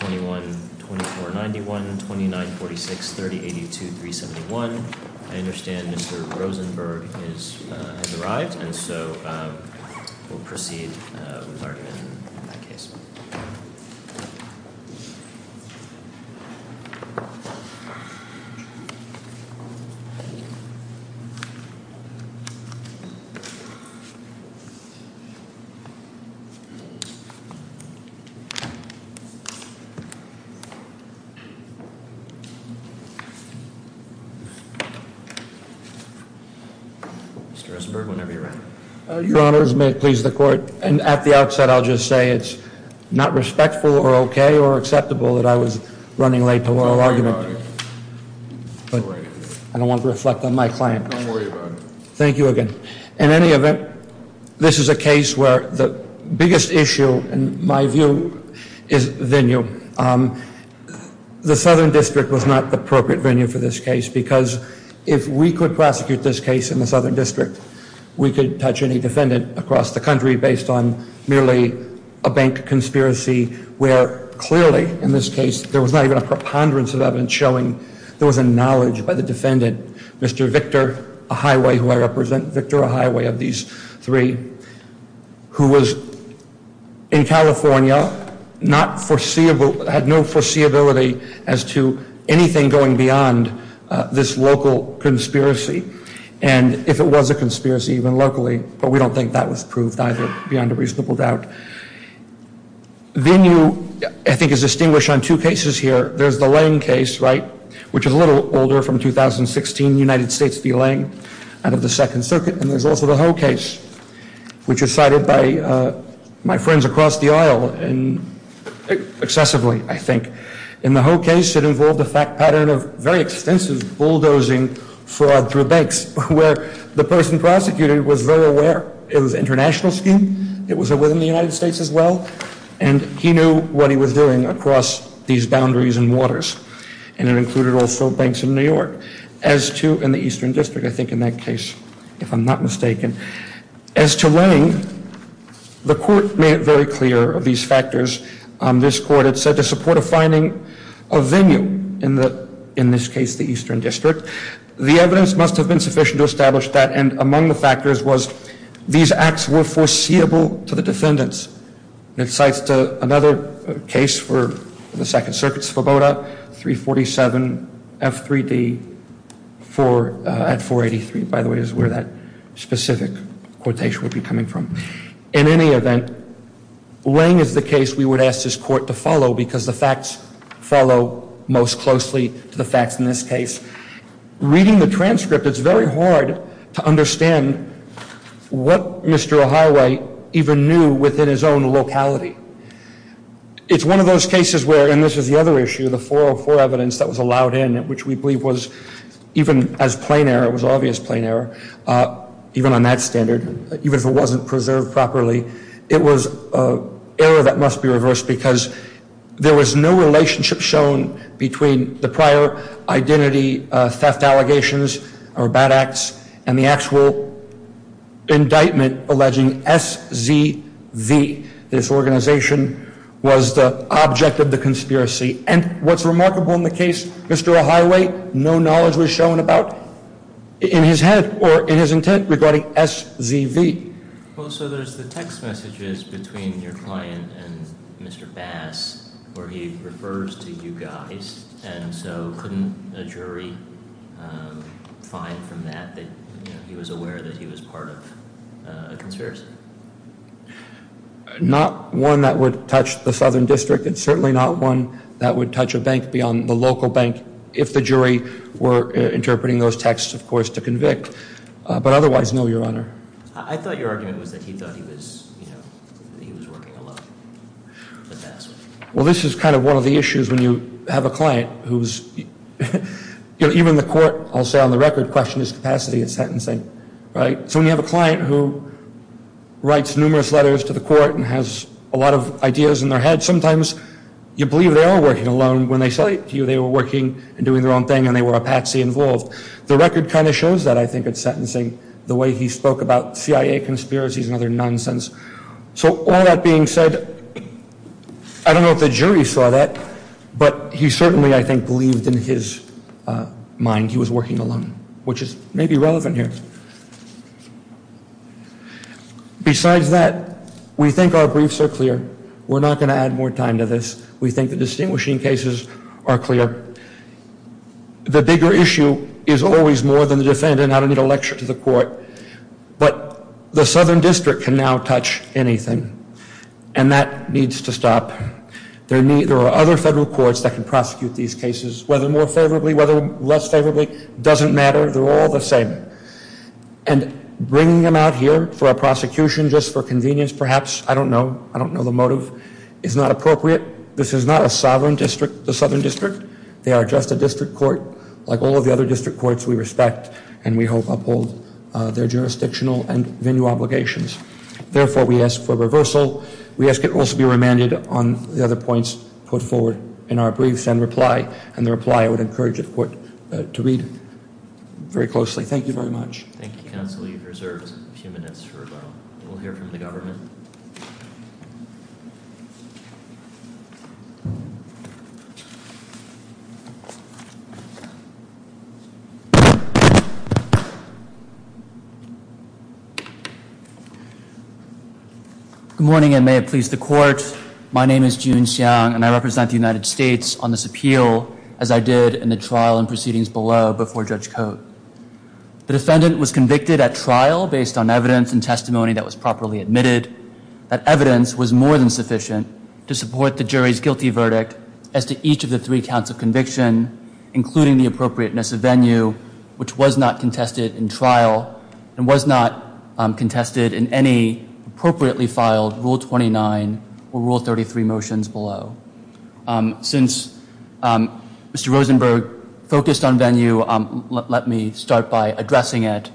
21-2491, 29-4630, 82-371 I understand Mr. Rosenberg has arrived, and so we'll proceed with the argument in that case. Mr. Rosenberg, whenever you're ready. Your honors, may it please the court, and at the outset I'll just say it's not respectful or okay or acceptable that I was running late to oral argument. I don't want to reflect on my claim. Don't worry about it. Thank you again. In any event, this is a case where the biggest issue, in my view, is venue. The Southern District was not the appropriate venue for this case because if we could prosecute this case in the Southern District, we could touch any defendant across the country based on merely a bank conspiracy, where clearly in this case there was not even a preponderance of evidence showing there was a knowledge by the defendant. Mr. Victor Ahaiwe, who I represent, Victor Ahaiwe of these three, who was in California, had no foreseeability as to anything going beyond this local conspiracy, and if it was a conspiracy even locally, but we don't think that was proved either beyond a reasonable doubt. Venue, I think, is distinguished on two cases here. There's the Lange case, right, which is a little older, from 2016, United States v. Lange out of the Second Circuit, and there's also the Ho case, which is cited by my friends across the aisle excessively, I think. In the Ho case, it involved a fact pattern of very extensive bulldozing fraud through banks, where the person prosecuted was very aware it was an international scheme, it was within the United States as well, and he knew what he was doing across these boundaries and waters, and it included also banks in New York. As to in the Eastern District, I think in that case, if I'm not mistaken, as to Lange, the court made it very clear of these factors. This court had said to support a finding of venue, in this case the Eastern District, the evidence must have been sufficient to establish that, and among the factors was these acts were foreseeable to the defendants. It cites another case for the Second Circuit, Svoboda, 347 F3D at 483, by the way, is where that specific quotation would be coming from. In any event, Lange is the case we would ask this court to follow because the facts follow most closely to the facts in this case. Reading the transcript, it's very hard to understand what Mr. O'Haraway even knew within his own locality. It's one of those cases where, and this is the other issue, the 404 evidence that was allowed in, which we believe was even as plain error, it was obvious plain error, even on that standard, even if it wasn't preserved properly, it was error that must be reversed because there was no relationship shown between the prior identity theft allegations or bad acts and the actual indictment alleging SZV, this organization, was the object of the conspiracy. And what's remarkable in the case, Mr. O'Haraway, no knowledge was shown about, in his head or in his intent, regarding SZV. Well, so there's the text messages between your client and Mr. Bass where he refers to you guys, and so couldn't a jury find from that that he was aware that he was part of a conspiracy? Not one that would touch the southern district and certainly not one that would touch a bank beyond the local bank if the jury were interpreting those texts, of course, to convict. But otherwise, no, Your Honor. I thought your argument was that he thought he was, you know, that he was working alone. Well, this is kind of one of the issues when you have a client who's, you know, even the court, I'll say on the record, questioned his capacity at sentencing, right? So when you have a client who writes numerous letters to the court and has a lot of ideas in their head, sometimes you believe they are working alone when they say to you they were working and doing their own thing and they were a patsy involved. The record kind of shows that, I think, at sentencing, the way he spoke about CIA conspiracies and other nonsense. So all that being said, I don't know if the jury saw that, but he certainly, I think, believed in his mind he was working alone, which is maybe relevant here. Besides that, we think our briefs are clear. We're not going to add more time to this. We think the distinguishing cases are clear. The bigger issue is always more than the defendant. I don't need a lecture to the court. But the Southern District can now touch anything, and that needs to stop. There are other federal courts that can prosecute these cases, whether more favorably, whether less favorably, doesn't matter. They're all the same. And bringing them out here for a prosecution just for convenience, perhaps, I don't know. I don't know the motive. It's not appropriate. This is not a sovereign district, the Southern District. They are just a district court, like all of the other district courts we respect, and we hope uphold their jurisdictional and venue obligations. Therefore, we ask for reversal. We ask it also be remanded on the other points put forward in our briefs and reply. And the reply, I would encourage the court to read very closely. Thank you very much. Thank you, counsel. You've reserved a few minutes for rebuttal. We'll hear from the government. Thank you. Good morning, and may it please the court. My name is Jun Xiang, and I represent the United States on this appeal, as I did in the trial and proceedings below before Judge Cote. The defendant was convicted at trial based on evidence and testimony that was properly admitted. That evidence was more than sufficient to support the jury's guilty verdict as to each of the three counts of conviction, including the appropriateness of venue, which was not contested in trial and was not contested in any appropriately filed Rule 29 or Rule 33 motions below. Since Mr. Rosenberg focused on venue, let me start by addressing it.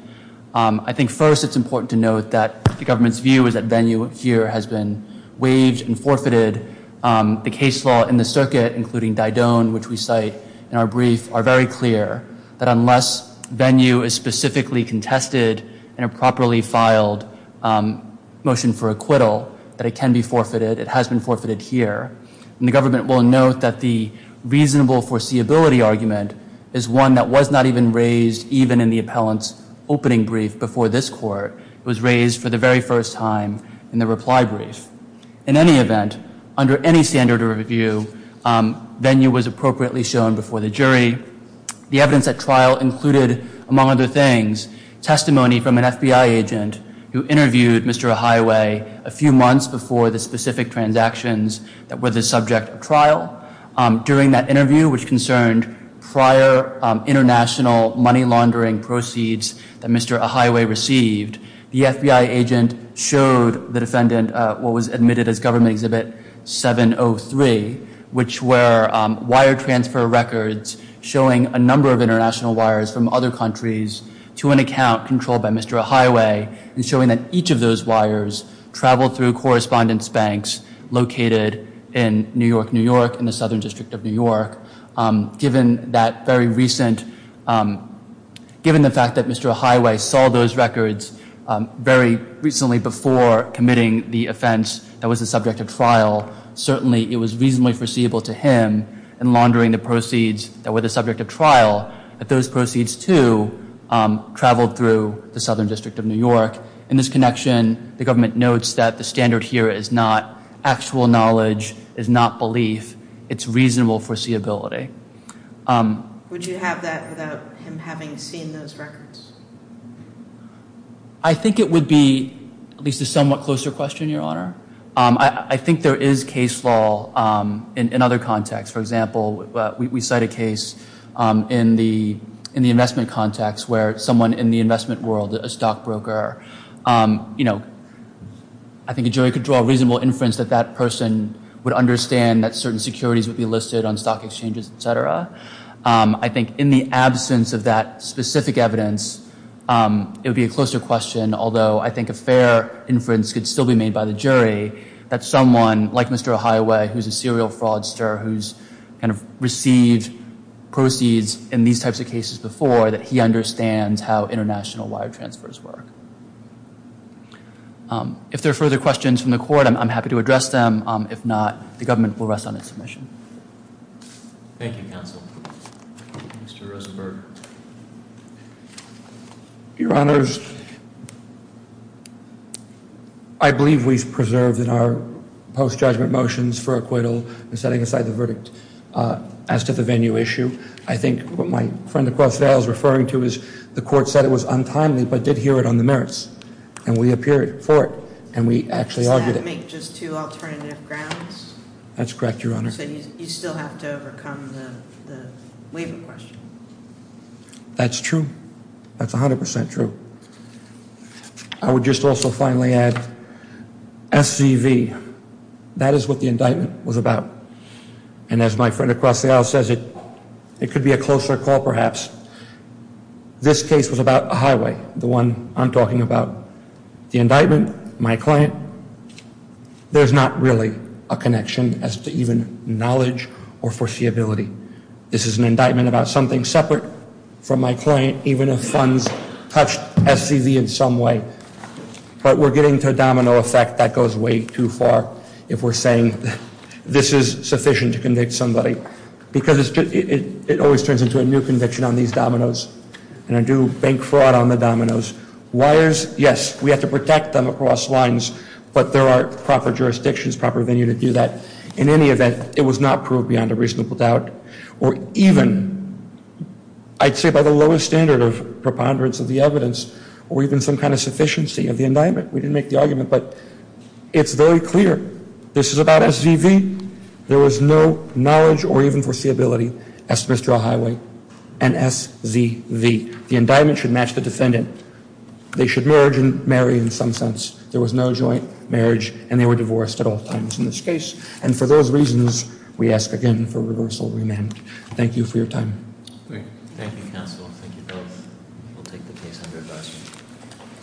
I think first it's important to note that the government's view is that venue here has been waived and forfeited. The case law in the circuit, including Didoan, which we cite in our brief, are very clear that unless venue is specifically contested in a properly filed motion for acquittal, that it can be forfeited. It has been forfeited here. And the government will note that the reasonable foreseeability argument is one that was not even raised, even in the appellant's opening brief before this court. It was raised for the very first time in the reply brief. In any event, under any standard of review, venue was appropriately shown before the jury. The evidence at trial included, among other things, testimony from an FBI agent who interviewed Mr. Ahiwe a few months before the specific transactions that were the subject of trial. During that interview, which concerned prior international money laundering proceeds that Mr. Ahiwe received, the FBI agent showed the defendant what was admitted as Government Exhibit 703, which were wire transfer records showing a number of international wires from other countries to an account controlled by Mr. Ahiwe, and showing that each of those wires traveled through correspondence banks located in New York, New York, in the Southern District of New York. Given the fact that Mr. Ahiwe saw those records very recently before committing the offense that was the subject of trial, certainly it was reasonably foreseeable to him in laundering the proceeds that were the subject of trial that those proceeds, too, traveled through the Southern District of New York. In this connection, the government notes that the standard here is not actual knowledge, is not belief. It's reasonable foreseeability. Would you have that without him having seen those records? I think it would be at least a somewhat closer question, Your Honor. I think there is case law in other contexts. For example, we cite a case in the investment context where someone in the investment world, a stockbroker, you know, I think a jury could draw a reasonable inference that that person would understand that certain securities would be listed on stock exchanges, et cetera. I think in the absence of that specific evidence, it would be a closer question, although I think a fair inference could still be made by the jury that someone like Mr. Ahiwe, who's a serial fraudster who's kind of received proceeds in these types of cases before, that he understands how international wire transfers work. If there are further questions from the court, I'm happy to address them. If not, the government will rest on its submission. Thank you, counsel. Mr. Rosenberg. Your Honors, I believe we've preserved in our post-judgment motions for acquittal and setting aside the verdict as to the venue issue. I think what my friend across the aisle is referring to is the court said it was untimely, but did hear it on the merits, and we appeared for it, and we actually argued it. Does that make just two alternative grounds? That's correct, Your Honor. You said you still have to overcome the waiver question. That's true. That's 100% true. I would just also finally add SCV, that is what the indictment was about. And as my friend across the aisle says, it could be a closer call perhaps. This case was about Ahiwe, the one I'm talking about. The indictment, my client, there's not really a connection as to even knowledge or foreseeability. This is an indictment about something separate from my client, even if funds touched SCV in some way. But we're getting to a domino effect that goes way too far if we're saying this is sufficient to convict somebody. Because it always turns into a new conviction on these dominoes, and I do bank fraud on the dominoes. Wires, yes, we have to protect them across lines, but there are proper jurisdictions, proper venue to do that. In any event, it was not proved beyond a reasonable doubt, or even I'd say by the lowest standard of preponderance of the evidence, or even some kind of sufficiency of the indictment. We didn't make the argument, but it's very clear this is about SCV. There was no knowledge or even foreseeability as to Mr. Ahiwe and SCV. The indictment should match the defendant. They should merge and marry in some sense. There was no joint marriage, and they were divorced at all times in this case. And for those reasons, we ask again for reversal remand. Thank you for your time. Thank you, counsel. Thank you both. We'll take the case under advice.